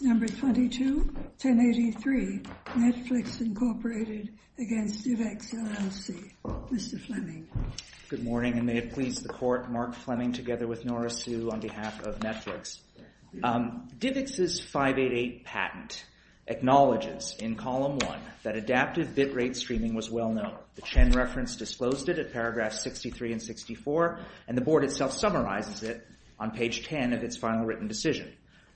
No. 22-1083, Netflix, Inc. v. DivX, LLC Mr. Fleming Good morning, and may it please the Court, Mark Fleming together with Nora Sue on behalf of Netflix. DivX's 588 patent acknowledges in Column 1 that adaptive bitrate streaming was well known. The Chen reference disclosed it at paragraphs 63 and 64, and the Board itself summarizes it on page 10 of its final written decision.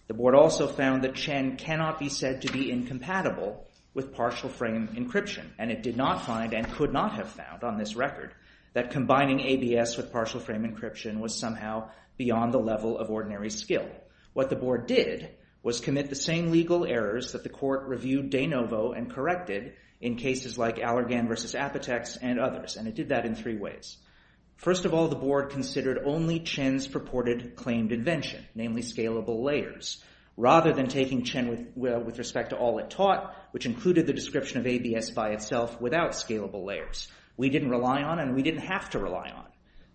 The Board also found that Chen cannot be said to be incompatible with partial frame encryption, and it did not find, and could not have found on this record, that combining ABS with partial frame encryption was somehow beyond the level of ordinary skill. What the Board did was commit the same legal errors that the Court reviewed de novo and corrected in cases like Allergan v. Apotex and others, and it did that in three ways. First of all, the Board considered only Chen's purported claimed invention, namely scalable layers, rather than taking Chen with respect to all it taught, which included the description of ABS by itself without scalable layers. We didn't rely on, and we didn't have to rely on,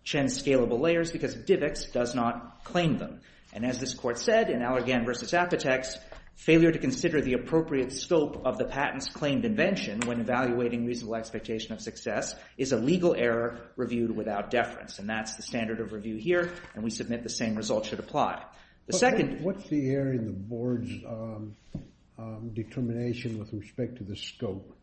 Chen's scalable layers because DivX does not claim them. And as this Court said in Allergan v. Apotex, failure to consider the appropriate scope of the patent's claimed invention when evaluating reasonable expectation of success is a legal error reviewed without deference, and that's the standard of review here, and we submit the same result should apply. The second... What's the error in the Board's determination with respect to the scope?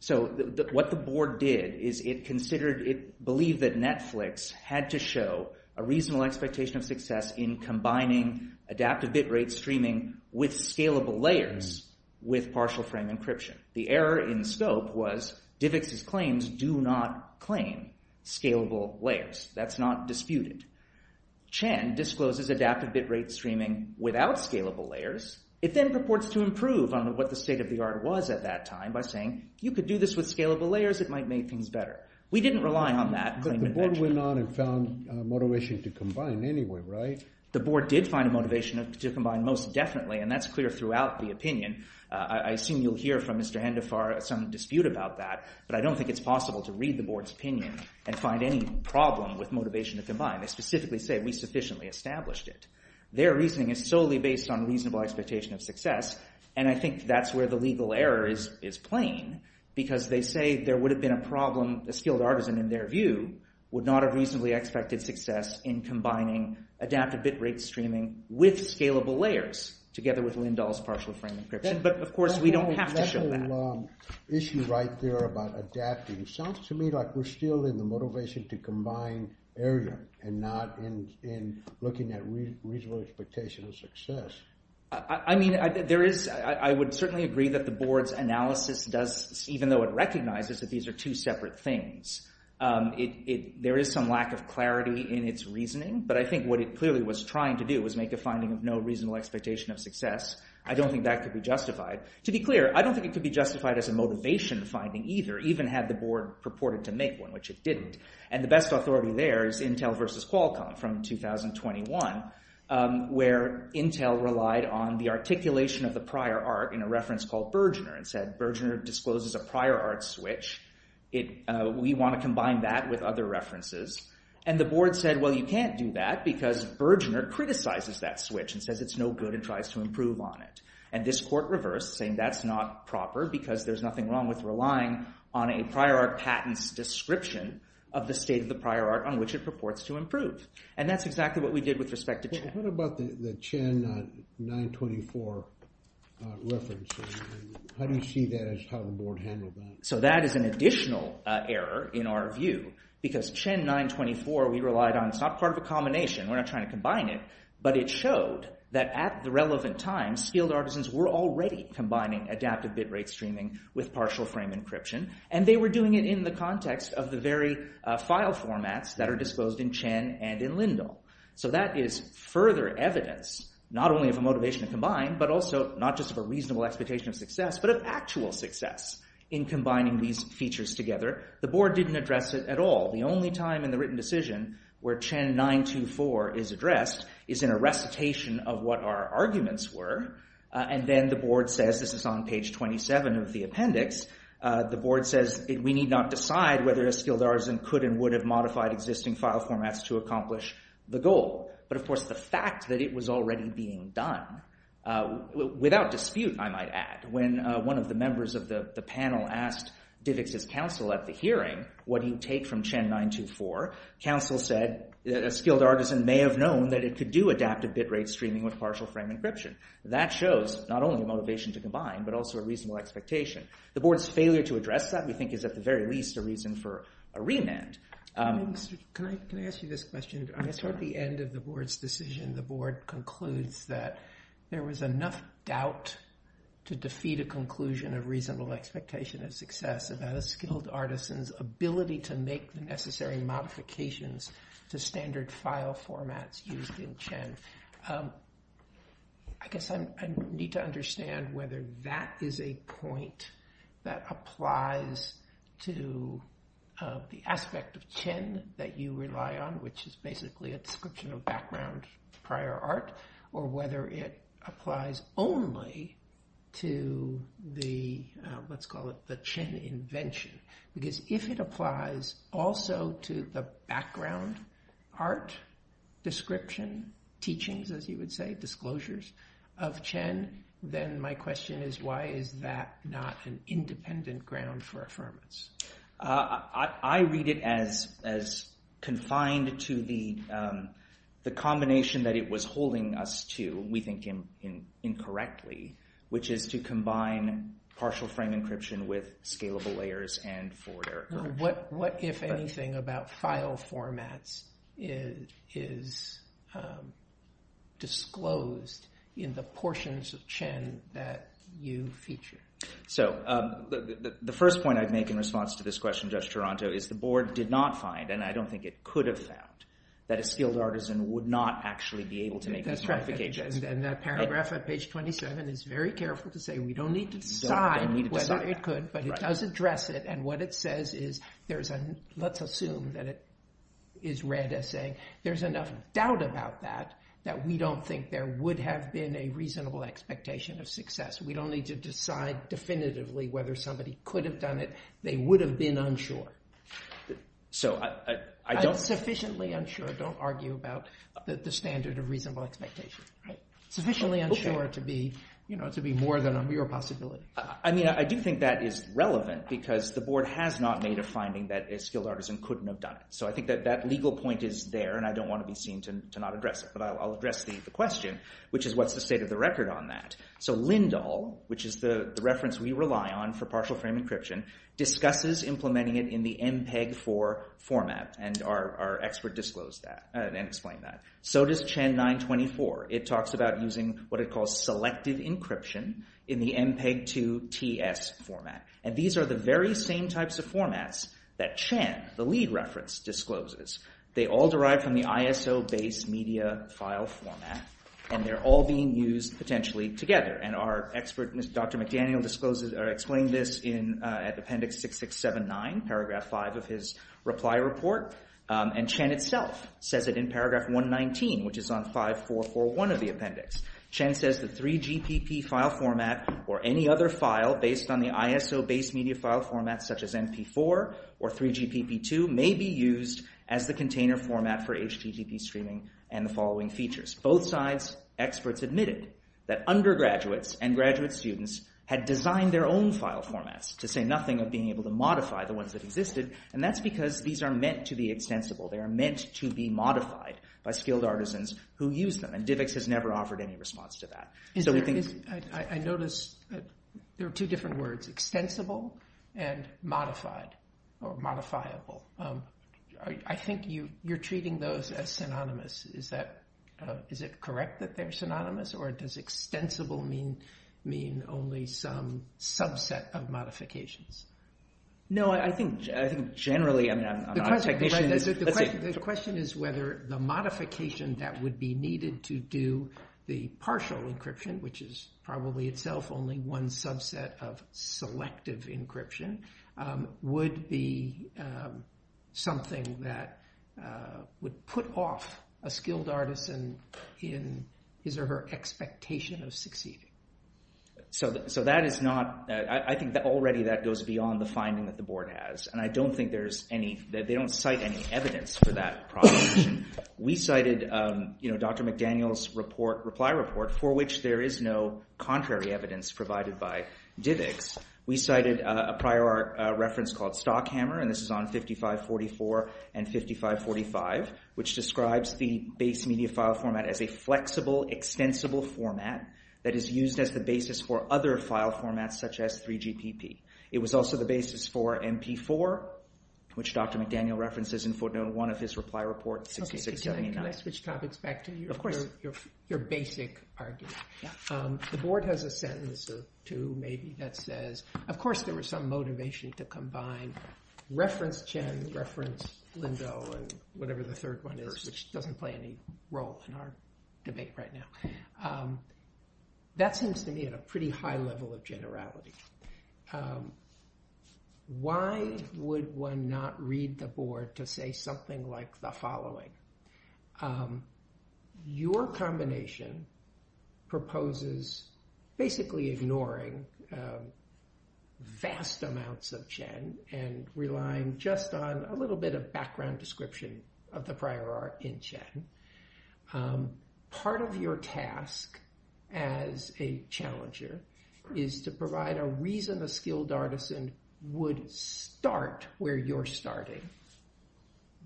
So what the Board did is it considered, it believed that Netflix had to show a reasonable expectation of success in combining adaptive bit rate streaming with scalable layers with partial frame encryption. The error in scope was DivX's claims do not claim scalable layers. That's not disputed. Chen discloses adaptive bit rate streaming without scalable layers. It then purports to improve on what the state-of-the-art was at that time by saying you could do this with scalable layers, it might make things better. We didn't rely on that claimed invention. But the Board went on and found motivation to combine anyway, right? The Board did find a motivation to combine most definitely, and that's clear throughout the opinion. I assume you'll hear from Mr. Handafar some dispute about that, but I don't think it's possible to read the Board's opinion and find any problem with motivation to combine. They specifically say we sufficiently established it. Their reasoning is solely based on reasonable expectation of success, and I think that's where the legal error is plain because they say there would have been a problem, a skilled artisan in their view, would not have reasonably expected success in combining adaptive bit rate streaming with scalable layers together with Lindahl's partial frame encryption, but of course we don't have to show that. That's a long issue right there about adapting. It sounds to me like we're still in the motivation to combine area and not in looking at reasonable expectation of success. I would certainly agree that the Board's analysis does, even though it recognizes that these are two separate things, there is some lack of clarity in its reasoning, but I think what it clearly was trying to do was make a finding of no reasonable expectation of success. I don't think that could be justified. To be clear, I don't think it could be justified as a motivation finding either, even had the Board purported to make one, which it didn't. And the best authority there is Intel versus Qualcomm from 2021, where Intel relied on the articulation of the prior art in a reference called Bergener, and said Bergener discloses a prior art switch. We want to combine that with other references. And the Board said, well, you can't do that because Bergener criticizes that switch and says it's no good and tries to improve on it. And this Court reversed, saying that's not proper because there's nothing wrong with relying on a prior art patent's description of the state of the prior art on which it purports to improve. And that's exactly what we did with respect to Chen. What about the Chen 924 reference? How do you see that as how the Board handled that? So that is an additional error in our view because Chen 924 we relied on, it's not part of a combination, we're not trying to combine it, but it showed that at the relevant time, skilled artisans were already combining adaptive bit rate streaming with partial frame encryption, and they were doing it in the context of the very file formats that are disposed in Chen and in Lindell. So that is further evidence, not only of a motivation to combine, but also not just of a reasonable expectation of success, but of actual success in combining these features together. The Board didn't address it at all. The only time in the written decision where Chen 924 is addressed is in a recitation of what our arguments were. And then the Board says, this is on page 27 of the appendix, the Board says we need not decide whether a skilled artisan could and would have modified existing file formats to accomplish the goal. But of course the fact that it was already being done, without dispute I might add, when one of the members of the panel asked Divix's counsel at the hearing, what do you take from Chen 924? Counsel said that a skilled artisan may have known that it could do adaptive bit rate streaming with partial frame encryption. That shows not only a motivation to combine, but also a reasonable expectation. The Board's failure to address that, we think, is at the very least a reason for a remand. Can I ask you this question? I guess at the end of the Board's decision, the Board concludes that there was enough doubt to defeat a conclusion of reasonable expectation of success about a skilled artisan's ability to make the necessary modifications to standard file formats used in Chen. I guess I need to understand whether that is a point that applies to the aspect of Chen that you rely on, which is basically a description of background prior art, or whether it applies only to the, let's call it the Chen invention. Because if it applies also to the background art description, teachings as you would say, disclosures of Chen, then my question is why is that not an independent ground for affirmance? I read it as confined to the combination that it was holding us to, we think incorrectly, which is to combine partial frame encryption with scalable layers and forward error correction. What, if anything, about file formats is disclosed in the portions of Chen that you feature? So the first point I'd make in response to this question, Judge Toronto, is the Board did not find, and I don't think it could have found, that a skilled artisan would not actually be able to make these modifications. And that paragraph on page 27 is very careful to say we don't need to decide whether it could, but it does address it. And what it says is, let's assume that it is read as saying there's enough doubt about that, that we don't think there would have been a reasonable expectation of success. We don't need to decide definitively whether somebody could have done it. They would have been unsure. So I don't... Sufficiently unsure, don't argue about the standard of reasonable expectation. Sufficiently unsure to be more than a mere possibility. I mean, I do think that is relevant, because the Board has not made a finding that a skilled artisan couldn't have done it. So I think that that legal point is there, and I don't want to be seen to not address it. But I'll address the question, which is what's the state of the record on that? So Lindahl, which is the reference we rely on for partial frame encryption, discusses implementing it in the MPEG-4 format, and our expert disclosed that and explained that. So does Chan 924. It talks about using what it calls selective encryption in the MPEG-2 TS format. And these are the very same types of formats that Chan, the lead reference, discloses. They all derive from the ISO base media file format, and they're all being used potentially together. And our expert, Dr. McDaniel, explained this at Appendix 6679, paragraph 5 of his reply report. And Chan itself says it in paragraph 119, which is on 5441 of the appendix. Chan says the 3GPP file format or any other file based on the ISO base media file format, such as MP4 or 3GPP2, may be used as the container format for HTTP streaming and the following features. Both sides' experts admitted that undergraduates and graduate students had designed their own file formats to say nothing of being able to modify the ones that existed, and that's because these are meant to be extensible. They are meant to be modified by skilled artisans who use them, and DIVX has never offered any response to that. So we think... I notice there are two different words, extensible and modified or modifiable. I think you're treating those as synonymous. Is it correct that they're synonymous, or does extensible mean only some subset of modifications? No, I think generally... The question is whether the modification that would be needed to do the partial encryption, which is probably itself only one subset of selective encryption, would be something that would put off a skilled artisan in his or her expectation of succeeding. So that is not... I think already that goes beyond the finding that the board has, and I don't think there's any... They don't cite any evidence for that proposition. We cited Dr. McDaniel's reply report, for which there is no contrary evidence provided by DIVX. We cited a prior reference called Stockhammer, and this is on 5544 and 5545, which describes the base media file format as a flexible, extensible format that is used as the basis for other file formats, such as 3GPP. It was also the basis for MP4, which Dr. McDaniel references in footnote 1 of his reply report 6679. Can I switch topics back to you? Of course. Your basic argument. The board has a sentence or two, maybe, that says... Of course there was some motivation to combine reference Chen, reference Lindow, and whatever the third one is, which doesn't play any role in our debate right now. That seems to me at a pretty high level of generality. Why would one not read the board to say something like the following? Your combination proposes basically ignoring vast amounts of Chen and relying just on a little bit of background description of the prior art in Chen. Part of your task as a challenger is to provide a reason a skilled artisan would start where you're starting.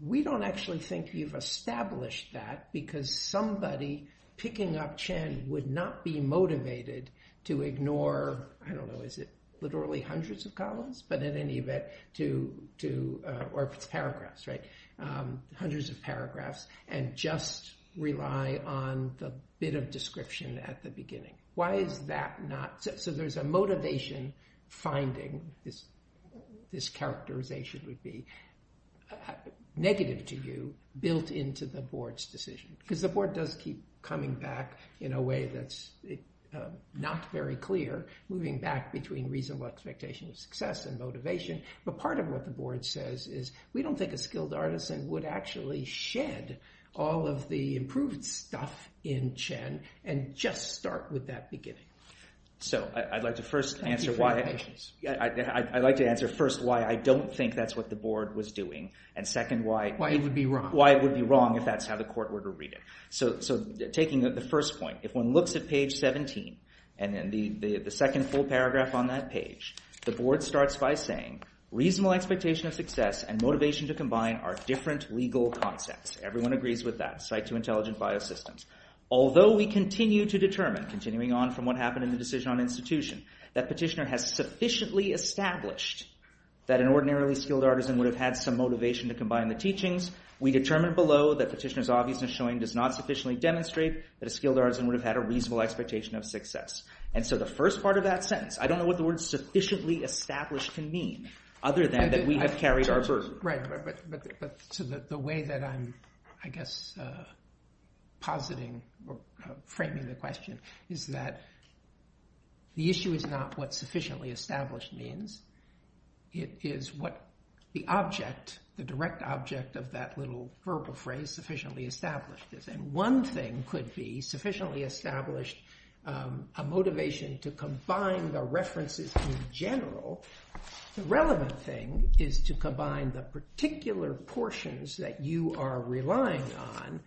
We don't actually think you've established that because somebody picking up Chen would not be motivated to ignore, I don't know, is it literally hundreds of columns? But in any event, to... Or if it's paragraphs, right? Hundreds of paragraphs and just rely on the bit of description at the beginning. Why is that not... So there's a motivation finding, this characterization would be, negative to you, built into the board's decision. Because the board does keep coming back in a way that's not very clear, moving back between reasonable expectation of success and motivation. But part of what the board says is we don't think a skilled artisan would actually shed all of the improved stuff in Chen and just start with that beginning. Thank you for your patience. I'd like to answer first why I don't think that's what the board was doing and second why it would be wrong if that's how the court were to read it. So taking the first point, if one looks at page 17 and then the second full paragraph on that page, the board starts by saying reasonable expectation of success and motivation to combine are different legal concepts. Everyone agrees with that. Although we continue to determine, continuing on from what happened in the decision on institution, that petitioner has sufficiently established that an ordinarily skilled artisan would have had some motivation to combine the teachings, we determine below that petitioner's obviousness showing does not sufficiently demonstrate that a skilled artisan would have had a reasonable expectation of success. And so the first part of that sentence, I don't know what the word sufficiently established can mean other than that we have carried our burden. Right, but the way that I'm, I guess, positing or framing the question is that the issue is not what sufficiently established means. It is what the object, the direct object of that little verbal phrase, sufficiently established is. And one thing could be sufficiently established a motivation to combine the references in general. The relevant thing is to combine the particular portions that you are relying on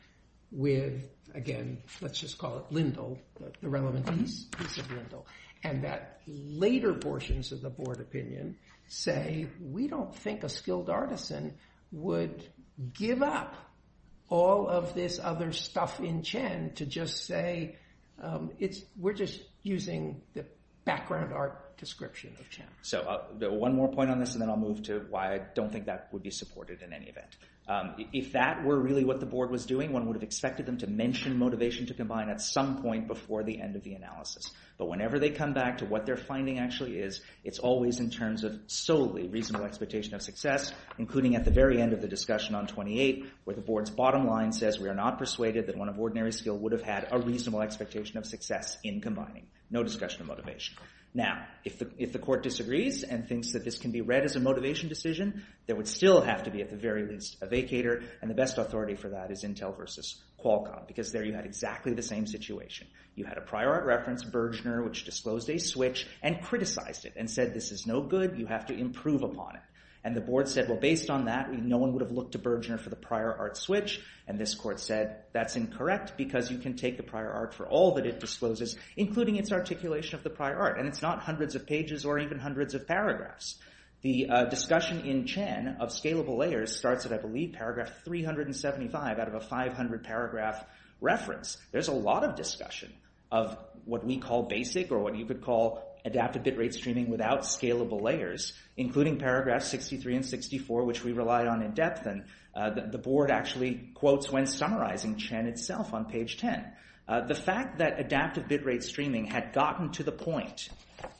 with, again, let's just call it lindle, the relevant piece of lindle, and that later portions of the board opinion say we don't think a skilled artisan would give up all of this other stuff in Chen to just say we're just using the background art description of Chen. So one more point on this and then I'll move to why I don't think that would be supported in any event. If that were really what the board was doing, one would have expected them to mention motivation to combine at some point before the end of the analysis. But whenever they come back to what their finding actually is, it's always in terms of solely reasonable expectation of success, including at the very end of the discussion on 28 where the board's bottom line says we are not persuaded that one of ordinary skill would have had a reasonable expectation of success in combining. No discussion of motivation. Now, if the court disagrees and thinks that this can be read as a motivation decision, there would still have to be at the very least a vacator and the best authority for that is Intel versus Qualcomm because there you had exactly the same situation. You had a prior art reference, Bergener, which disclosed a switch and criticized it and said this is no good, you have to improve upon it. And the board said, well, based on that, no one would have looked to Bergener for the prior art switch and this court said that's incorrect because you can take the prior art for all that it discloses, including its articulation of the prior art and it's not hundreds of pages or even hundreds of paragraphs. The discussion in Chen of scalable layers starts at, I believe, paragraph 375 out of a 500-paragraph reference. There's a lot of discussion of what we call basic or what you could call adaptive bit rate streaming without scalable layers, including paragraphs 63 and 64, which we relied on in depth and the board actually quotes when summarizing Chen itself on page 10. The fact that adaptive bit rate streaming had gotten to the point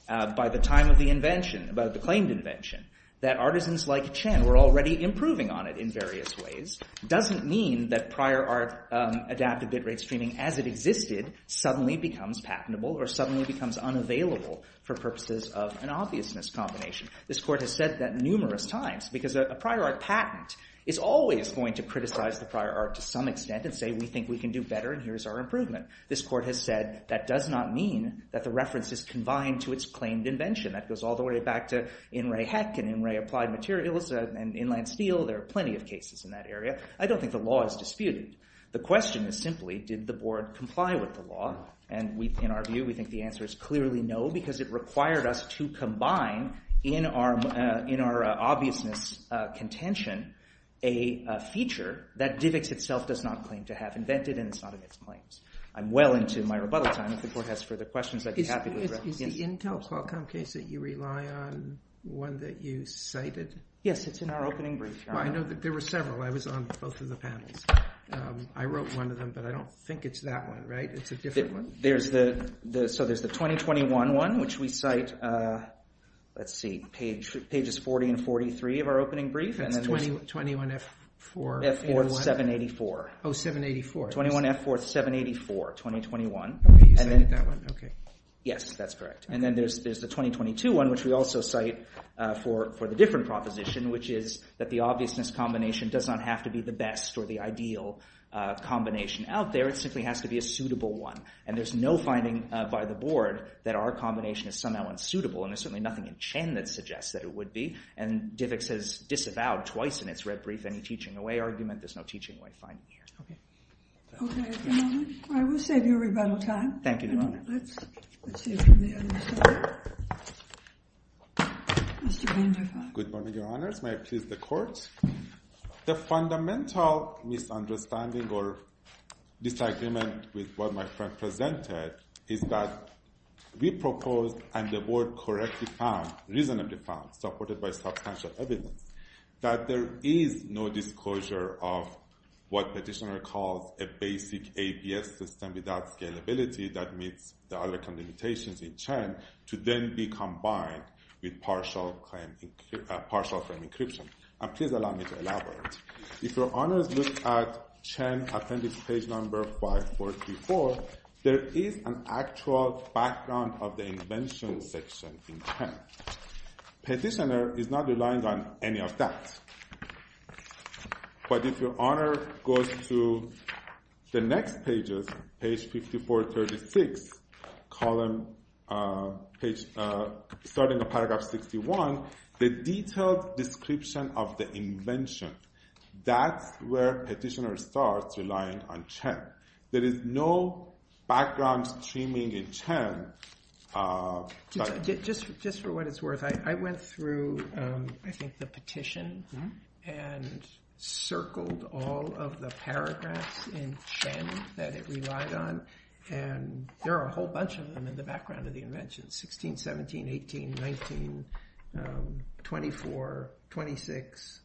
by the time of the invention, about the claimed invention, that artisans like Chen were already improving on it in various ways, doesn't mean that prior art adaptive bit rate streaming as it existed suddenly becomes patentable or suddenly becomes unavailable for purposes of an obviousness combination. This court has said that numerous times because a prior art patent is always going to criticize the prior art to some extent and say we think we can do better and here's our improvement. This court has said that does not mean that the reference is combined to its claimed invention. That goes all the way back to In Ray Heck and In Ray Applied Materials and Inland Steel. There are plenty of cases in that area. I don't think the law is disputed. The question is simply did the board comply with the law and in our view we think the answer is clearly no because it required us to combine in our obviousness contention a feature that DIVX itself does not claim to have invented and it's not in its claims. I'm well into my rebuttal time. If the court has further questions I'd be happy to address. Is the Intel Qualcomm case that you rely on one that you cited? Yes, it's in our opening brief. I know that there were several. I was on both of the panels. I wrote one of them but I don't think it's that one, right? It's a different one? There's the 2021 one which we cite let's see, pages 40 and 43 of our opening brief. That's 21F4. F4, 784. Oh, 784. 21F4, 784, 2021. You cited that one? Yes, that's correct. And then there's the 2022 one which we also cite for the different proposition which is that the obviousness combination does not have to be the best or the ideal combination out there. It simply has to be a suitable one and there's no finding by the board that our combination is somehow unsuitable and there's certainly nothing in Chen that suggests that it would be and DIVX has disavowed twice in its red brief any teaching away argument. There's no teaching away finding here. Okay, I will save your rebuttal time. Thank you, Your Honor. Good morning, Your Honors. May I please the court? The fundamental misunderstanding or disagreement with what my friend presented is that we proposed and the board correctly found reasonably found, supported by substantial evidence that there is no disclosure of what petitioner calls a basic APS system without scalability that meets the other condemnations in Chen to then be combined with partial claim encryption. And please allow me to elaborate. If Your Honors look at Chen appendix page number 544 there is an actual background of the invention section in Chen. Petitioner is not relying on any of that. But if Your Honor goes to the next pages, page 5436 starting at paragraph 61 the detailed description of the invention that's where petitioner starts relying on Chen. There is no background streaming in Chen. Just for what it's worth, I went through I think the petition and circled all of the paragraphs in Chen that it relied on and there are a whole bunch of them in the background of the invention. 16, 17, 18, 19, 24, 26.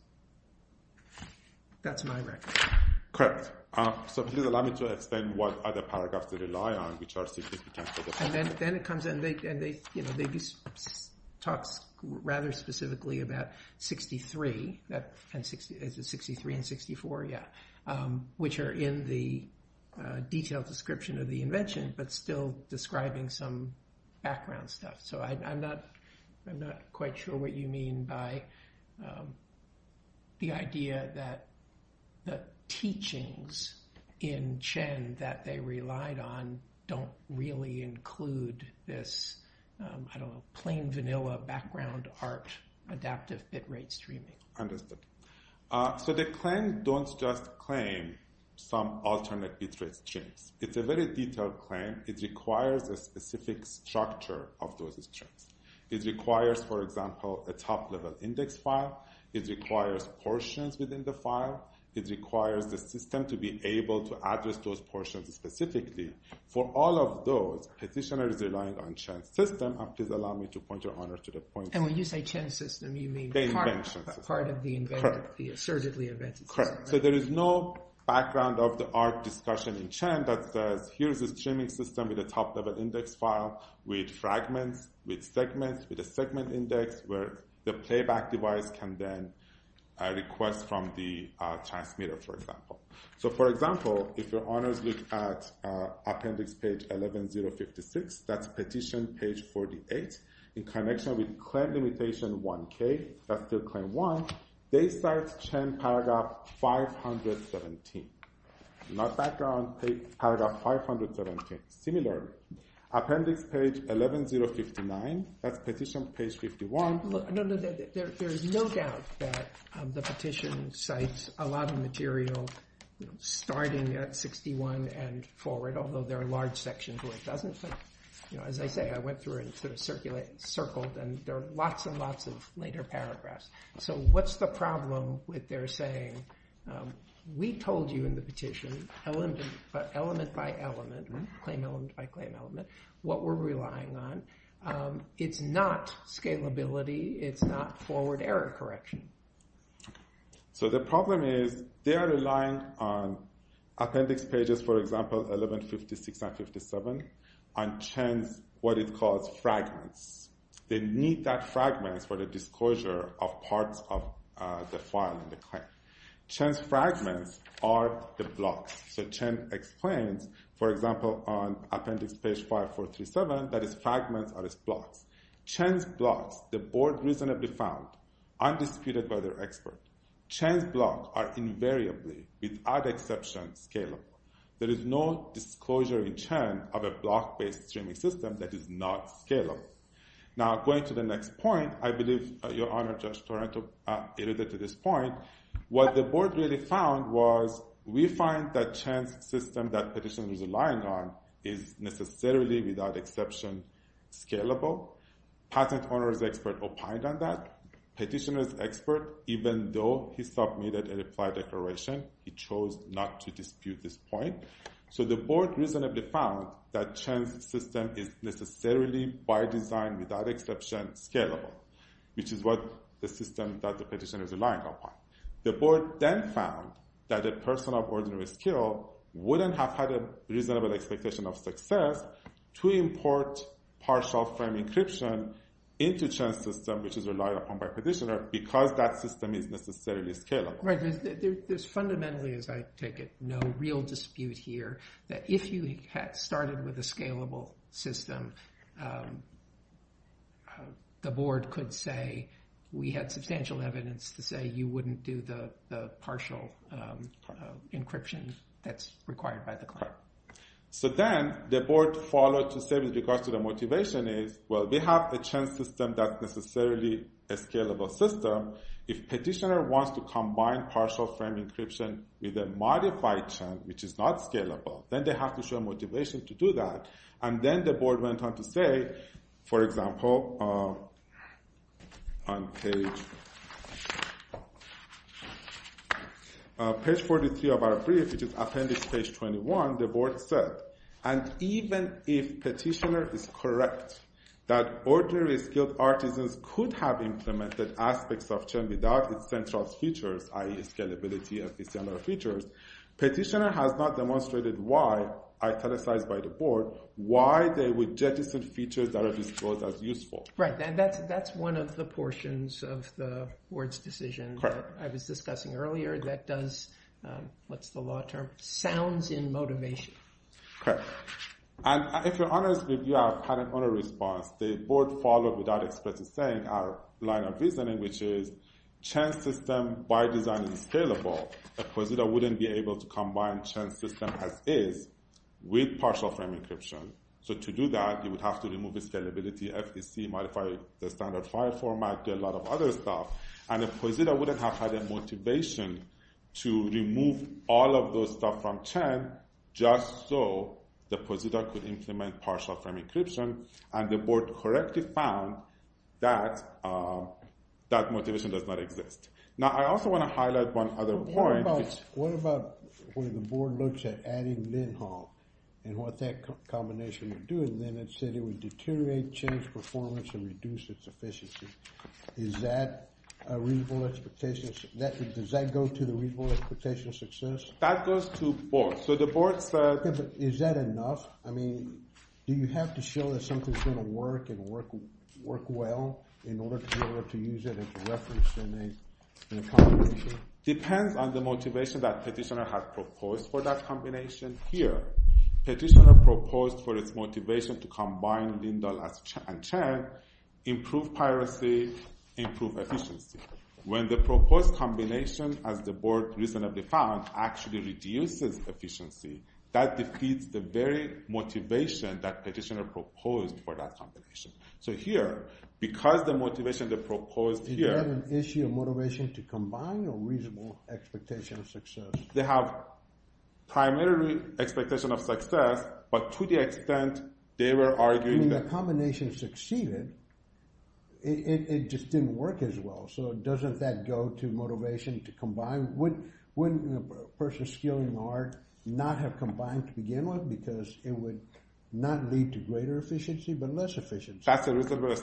That's my record. Correct. So please allow me to explain what other paragraphs they rely on which are significant. And then it comes in and they talk rather specifically about 63 Is it 63 and 64? Yeah. Which are in the detailed description of the invention but still describing some background stuff. So I'm not quite sure what you mean by the idea that the teachings in Chen that they relied on don't really include this I don't know, plain vanilla background art adaptive bit rate streaming. Understood. So the claim don't just claim some alternate bit rate streams. It's a very detailed claim. It requires a specific structure of those streams. It requires, for example, a top level index file. It requires portions within the file. It requires the system to be able to address those portions specifically. For all of those, petitioner is relying on Chen's system and please allow me to point your honor to the point. And when you say Chen's system, you mean part of the surgically invented system. Correct. So there is no background of the art discussion in Chen that says here's a streaming system with a top level index file with fragments, with segments, with a segment index where the playback device can then request from the transmitter, for example. So for example, if your honors look at appendix page 11056, that's petition page 48, in connection with claim limitation 1K, that's still claim one, they cite Chen paragraph 517. Not background, paragraph 517. Similarly, appendix page 11059, that's petition page 51. There's no doubt that the petition cites a lot of material starting at 61 and forward, although there are large sections where it doesn't. As I say, I went through and circled and there are lots and lots of later paragraphs. So what's the problem with their saying, we told you in the petition, element by element, claim element by claim element, what we're relying on. It's not scalability, it's not forward error correction. So the problem is, they are relying on appendix pages, for example, 1156 and 57, on Chen's, what it calls fragments. They need that fragments for the disclosure of parts of the file in the claim. Chen's fragments are the blocks. So Chen explains, for example, on appendix page 5437, that his fragments are his blocks. Chen's blocks, the board reasonably found, undisputed by their expert. Chen's blocks are invariably, without exception, scalable. There is no disclosure in Chen of a block-based streaming system that is not scalable. Now, going to the next point, I believe your honor, Judge Torento, alluded to this point. What the board really found was, we find that Chen's system that petitioners are relying on is necessarily, without exception, scalable. Patent owner's expert opined on that. Petitioner's expert, even though he submitted a reply declaration, he chose not to dispute this point. So the board reasonably found that Chen's system is necessarily, by design, without exception, scalable, which is what the system that the petitioners are relying upon. The board then found that a person of ordinary skill wouldn't have had a reasonable expectation of success to import partial frame encryption into Chen's system, which is relied upon by petitioner, because that system is necessarily scalable. Right. There's fundamentally, as I take it, no real dispute here that if you had started with a scalable system, the board could say, we had substantial evidence to say, you wouldn't do the partial encryption that's required by the client. Right. So then, the board followed to say, with regards to the motivation is, well, we have a Chen's system that's necessarily a scalable system. If petitioner wants to combine partial frame encryption with a modified Chen, which is not scalable, then they have to show motivation to do that. And then the board went on to say, for example, on page 43 of our brief, which is appendix page 21, the board said, and even if petitioner is correct that ordinary skilled artisans could have implemented aspects of Chen without its central features, i.e. scalability of its general features, petitioner has not demonstrated why, italicized by the board, why they would jettison features that are disclosed as useful. Right. And that's one of the portions of the board's decision that I was discussing earlier, that does, what's the law term? Sounds in motivation. Correct. And if you're honest with you, I've had an honest response. The board followed without explicit saying our line of reasoning, which is Chen's system, by design, is scalable. But petitioner wouldn't be able to combine Chen's system as is with partial frame encryption. So to do that, you would have to remove scalability, FTC, modify the standard file format, do a lot of other stuff. And if petitioner wouldn't have had a motivation to remove all of those stuff from Chen, just so the petitioner could implement partial frame encryption, and the board correctly found that that motivation does not exist. Now, I also want to highlight one other point. What about where the board looks at adding Lindholm and what that combination would do? And then it said it would deteriorate, change performance, and reduce its efficiency. Is that a reasonable expectation? Does that go to the reasonable expectation of success? That goes to both. So the board said. Is that enough? I mean, do you have to show that something's going to work and work well in order to be able to use it as a reference in a combination? Depends on the motivation that petitioner had proposed for that combination. Here, petitioner proposed for its motivation to combine Lindholm and Chen, improve piracy, improve efficiency. When the proposed combination, as the board recently found, actually reduces efficiency, that defeats the very motivation that petitioner proposed for that combination. So here, because the motivation they proposed here. Is that an issue of motivation to combine or reasonable expectation of success? They have primary expectation of success, but to the extent they were arguing that. I mean, the combination succeeded. It just didn't work as well. So doesn't that go to motivation to combine? Wouldn't a person skilling hard not have combined to begin with because it would not lead to greater efficiency but less efficiency? That's a reasonable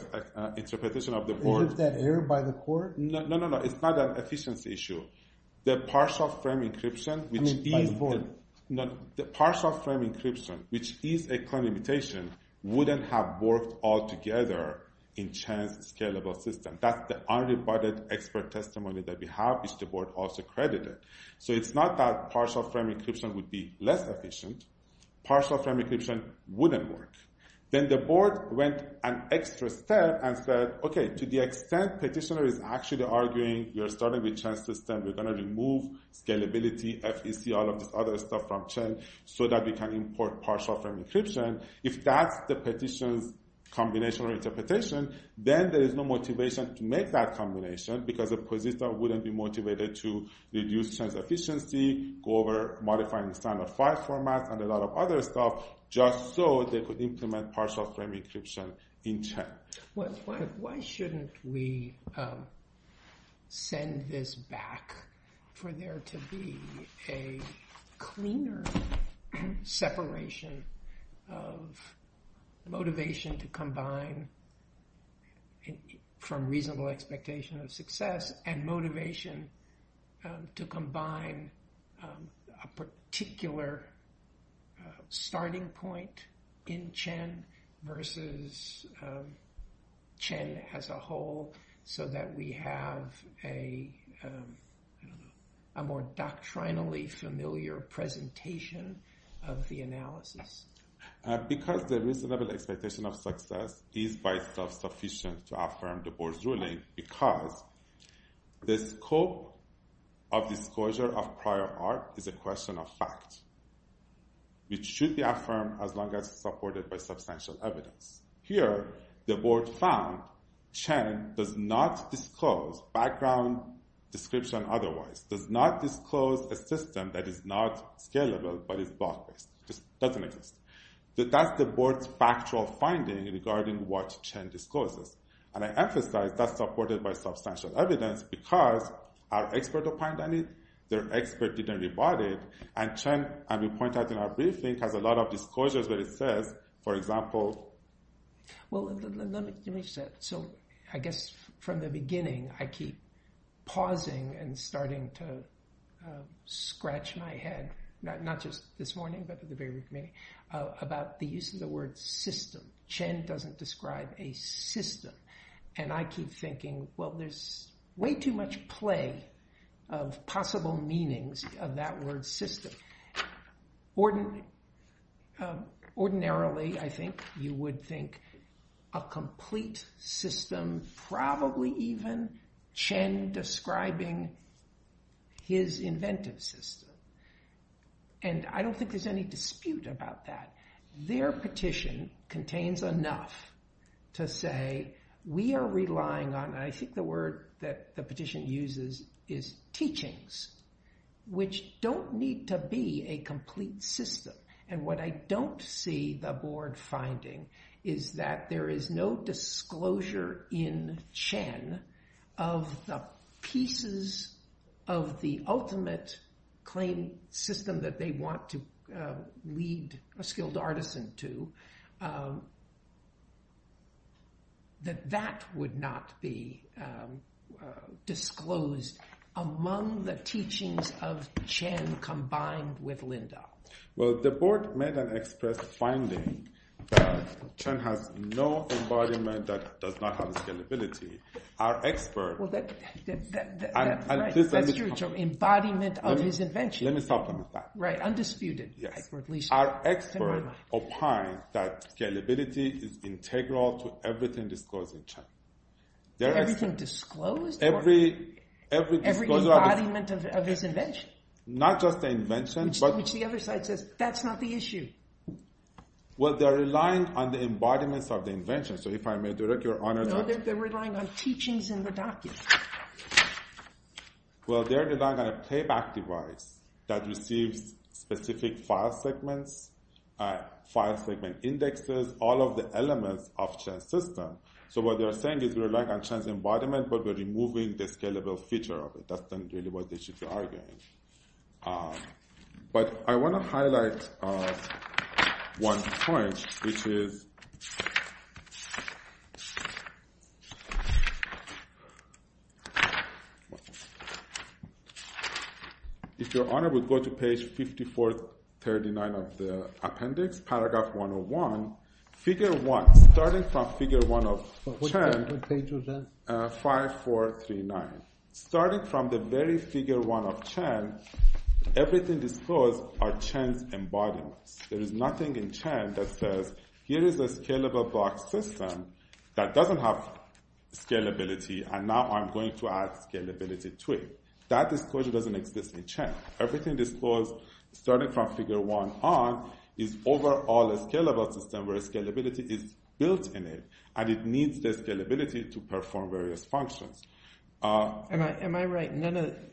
interpretation of the board. Isn't that errored by the court? No, no, no, no. It's not an efficiency issue. The partial frame encryption, which is a claim imitation, wouldn't have worked altogether in Chen's scalable system. That's the unrebutted expert testimony that we have, which the board also credited. So it's not that partial frame encryption would be less efficient. Partial frame encryption wouldn't work. Then the board went an extra step and said, okay, to the extent petitioner is actually arguing we are starting with Chen's system, we're going to remove scalability, FEC, all of this other stuff from Chen so that we can import partial frame encryption. If that's the petitioner's combination or interpretation, then there is no motivation to make that combination because a position wouldn't be motivated to reduce Chen's efficiency, go over modifying the standard file format and a lot of other stuff just so they could implement partial frame encryption in Chen. Why shouldn't we send this back for there to be a cleaner separation of motivation to combine from reasonable expectation of success and motivation to combine a particular starting point in Chen versus Chen as a whole so that we have a more doctrinally familiar presentation of the analysis? Because the reasonable expectation of success is by itself sufficient to affirm the board's ruling because the scope of disclosure of prior art is a question of fact, which should be affirmed as long as it's supported by substantial evidence. Here, the board found Chen does not disclose background description otherwise, does not disclose a system that is not scalable but is block-based, just doesn't exist. That's the board's factual finding regarding what Chen discloses. And I emphasize that's supported by substantial evidence because our expert opined on it, their expert didn't rebut it, and Chen, as we pointed out in our briefing, has a lot of disclosures that it says. For example... Well, let me say it. So I guess from the beginning, I keep pausing and starting to scratch my head, not just this morning but the very beginning, about the use of the word system. Chen doesn't describe a system. And I keep thinking, well, there's way too much play of possible meanings of that word system. Ordinarily, I think, you would think a complete system, probably even Chen describing his inventive system. And I don't think there's any dispute about that. Their petition contains enough to say we are relying on, and I think the word that the petition uses is teachings, which don't need to be a complete system. And what I don't see the board finding is that there is no disclosure in Chen of the pieces of the ultimate claim system that they want to lead a skilled artisan to, that that would not be disclosed among the teachings of Chen combined with Linda. Well, the board made an express finding that Chen has no embodiment that does not have scalability. Our expert... That's your term, embodiment of his invention. Let me supplement that. Right, undisputed. Our expert opined that scalability is integral to everything disclosed in Chen. Everything disclosed? Every disclosure... Every embodiment of his invention. Not just the invention, but... Which the other side says, that's not the issue. Well, they're relying on the embodiments of the invention. So if I may direct your honor... No, they're relying on teachings in the document. Well, they're relying on a playback device that receives specific file segments, file segment indexes, all of the elements of Chen's system. So what they're saying is we rely on Chen's embodiment, but we're removing the scalable feature of it. That's not really what they should be arguing. But I want to highlight one point, which is... If your honor would go to page 5439 of the appendix, paragraph 101, figure 1, starting from figure 1 of Chen... 5439. Starting from the very figure 1 of Chen, everything disclosed are Chen's embodiments. There is nothing in Chen that says, here is a scalable box system that doesn't have scalability, and now I'm going to add scalability to it. That disclosure doesn't exist in Chen. Everything disclosed, starting from figure 1 on, is overall a scalable system where scalability is built in it, and it needs the scalability to perform various functions. Am I right?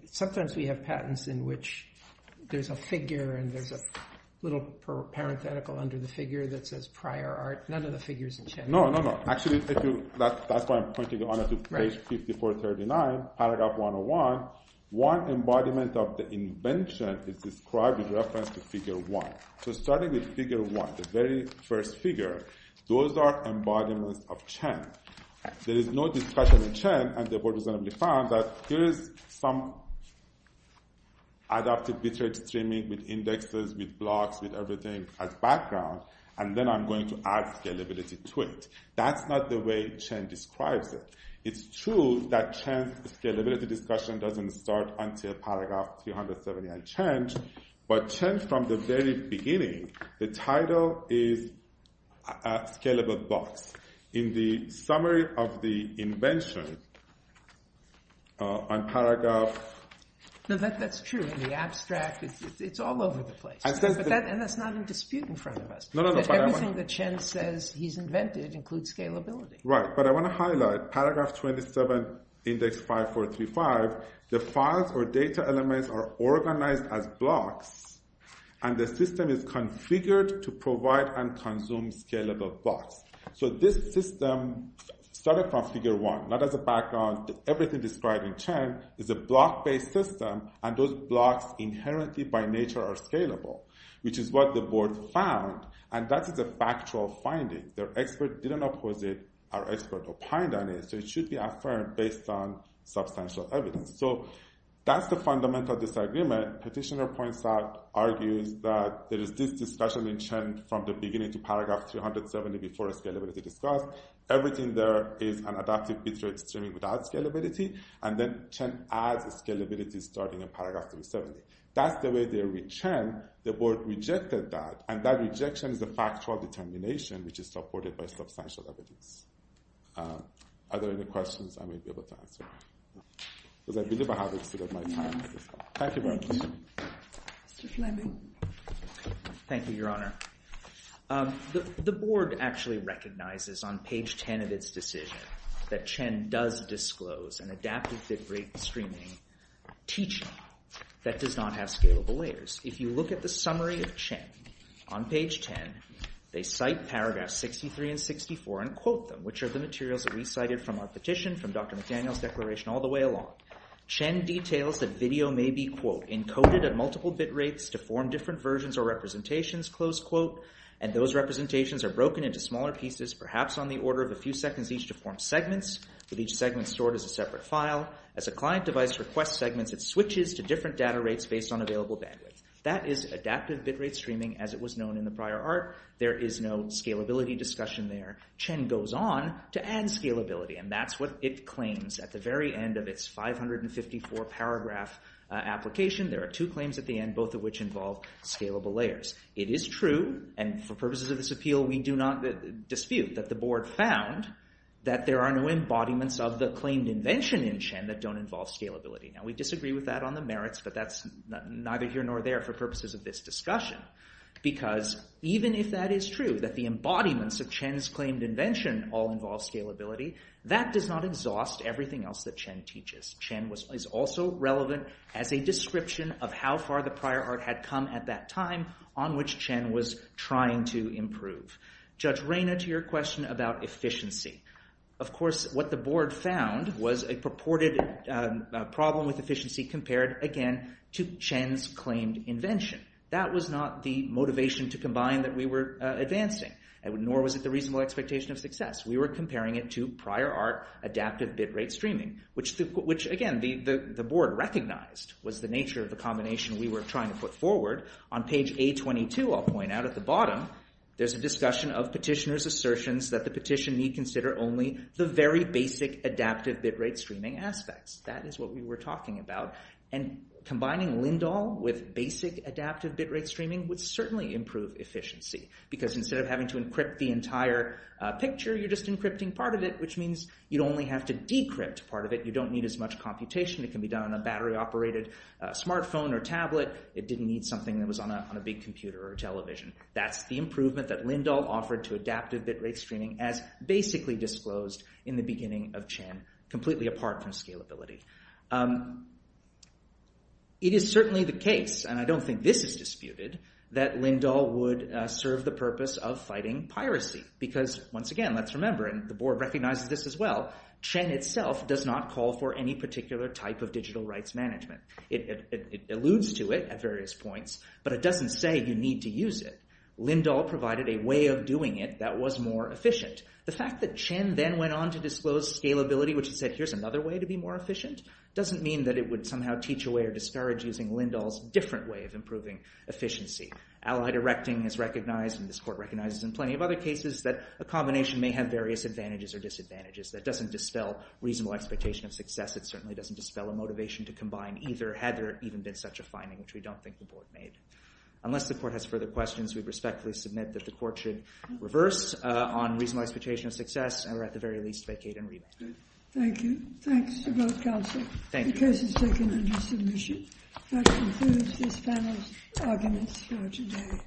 Sometimes we have patents in which there's a figure and there's a little parenthetical under the figure that says prior art. None of the figures in Chen... No, no, no. Actually, that's why I'm pointing your honor to page 5439, paragraph 101. One embodiment of the invention is described in reference to figure 1. So starting with figure 1, the very first figure, those are embodiments of Chen. There is no discussion in Chen, and the board reasonably found that there is some adaptive bit rate streaming with indexes, with blocks, with everything as background, and then I'm going to add scalability to it. That's not the way Chen describes it. It's true that Chen's scalability discussion doesn't start until paragraph 379 Chen, but Chen, from the very beginning, the title is Scalable Blocks. In the summary of the invention, on paragraph... No, that's true. In the abstract, it's all over the place, and that's not in dispute in front of us. Everything that Chen says he's invented includes scalability. Right, but I want to highlight, paragraph 27, index 5435, the files or data elements are organized as blocks and the system is configured to provide and consume scalable blocks. So this system started from figure 1, not as a background. Everything described in Chen is a block-based system, and those blocks inherently by nature are scalable, which is what the board found, and that is a factual finding. Their expert didn't oppose it. Our expert opined on it, so it should be affirmed based on substantial evidence. So that's the fundamental disagreement. Petitioner points out, argues, that there is this discussion in Chen from the beginning to paragraph 370 before scalability discussed. Everything there is an adaptive bit rate streaming without scalability, and then Chen adds scalability starting in paragraph 370. That's the way they're with Chen. The board rejected that, and that rejection is a factual determination, which is supported by substantial evidence. Are there any questions I may be able to answer? Because I believe I have exceeded my time. Thank you very much. Mr. Fleming. Thank you, Your Honor. The board actually recognizes on page 10 of its decision that Chen does disclose an adaptive bit rate streaming teaching that does not have scalable layers. If you look at the summary of Chen on page 10, they cite paragraphs 63 and 64 and quote them, which are the materials that we cited from our petition, from Dr. McDaniel's declaration all the way along. Chen details that video may be, quote, encoded at multiple bit rates to form different versions or representations, close quote, and those representations are broken into smaller pieces, perhaps on the order of a few seconds each, to form segments, with each segment stored as a separate file. As a client device requests segments, it switches to different data rates based on available bandwidth. That is adaptive bit rate streaming as it was known in the prior art. There is no scalability discussion there. Chen goes on to add scalability, and that's what it claims at the very end of its 554 paragraph application. There are two claims at the end, both of which involve scalable layers. It is true, and for purposes of this appeal, we do not dispute that the board found that there are no embodiments of the claimed invention in Chen that don't involve scalability. Now, we disagree with that on the merits, but that's neither here nor there for purposes of this discussion because even if that is true, that the embodiments of Chen's claimed invention all involve scalability, that does not exhaust everything else that Chen teaches. Chen is also relevant as a description of how far the prior art had come at that time on which Chen was trying to improve. Judge Reyna, to your question about efficiency. Of course, what the board found was a purported problem with efficiency compared, again, to Chen's claimed invention. That was not the motivation to combine that we were advancing, nor was it the reasonable expectation of success. We were comparing it to prior art adaptive bit rate streaming, which, again, the board recognized was the nature of the combination we were trying to put forward. On page A22, I'll point out at the bottom, there's a discussion of petitioner's assertions that the petition need consider only the very basic adaptive bit rate streaming aspects. That is what we were talking about, and combining Lindahl with basic adaptive bit rate streaming would certainly improve efficiency because instead of having to encrypt the entire picture, you're just encrypting part of it, which means you'd only have to decrypt part of it. You don't need as much computation. It can be done on a battery-operated smartphone or tablet. It didn't need something that was on a big computer or television. That's the improvement that Lindahl offered to adaptive bit rate streaming as basically disclosed in the beginning of Chen, completely apart from scalability. It is certainly the case, and I don't think this is disputed, that Lindahl would serve the purpose of fighting piracy because, once again, let's remember, and the board recognizes this as well, Chen itself does not call for any particular type of digital rights management. It alludes to it at various points, but it doesn't say you need to use it. Lindahl provided a way of doing it that was more efficient. The fact that Chen then went on to disclose scalability, which said here's another way to be more efficient, doesn't mean that it would somehow teach away or discourage using Lindahl's different way of improving efficiency. Allied erecting is recognized, and this court recognizes in plenty of other cases that a combination may have various advantages or disadvantages. That doesn't dispel reasonable expectation of success. It certainly doesn't dispel a motivation to combine either, had there even been such a finding, which we don't think the board made. Unless the court has further questions, we respectfully submit that the court should reverse on reasonable expectation of success, or at the very least vacate and revoke. Thank you. Thanks to both counsel. The case is taken under submission. That concludes this panel's arguments for today.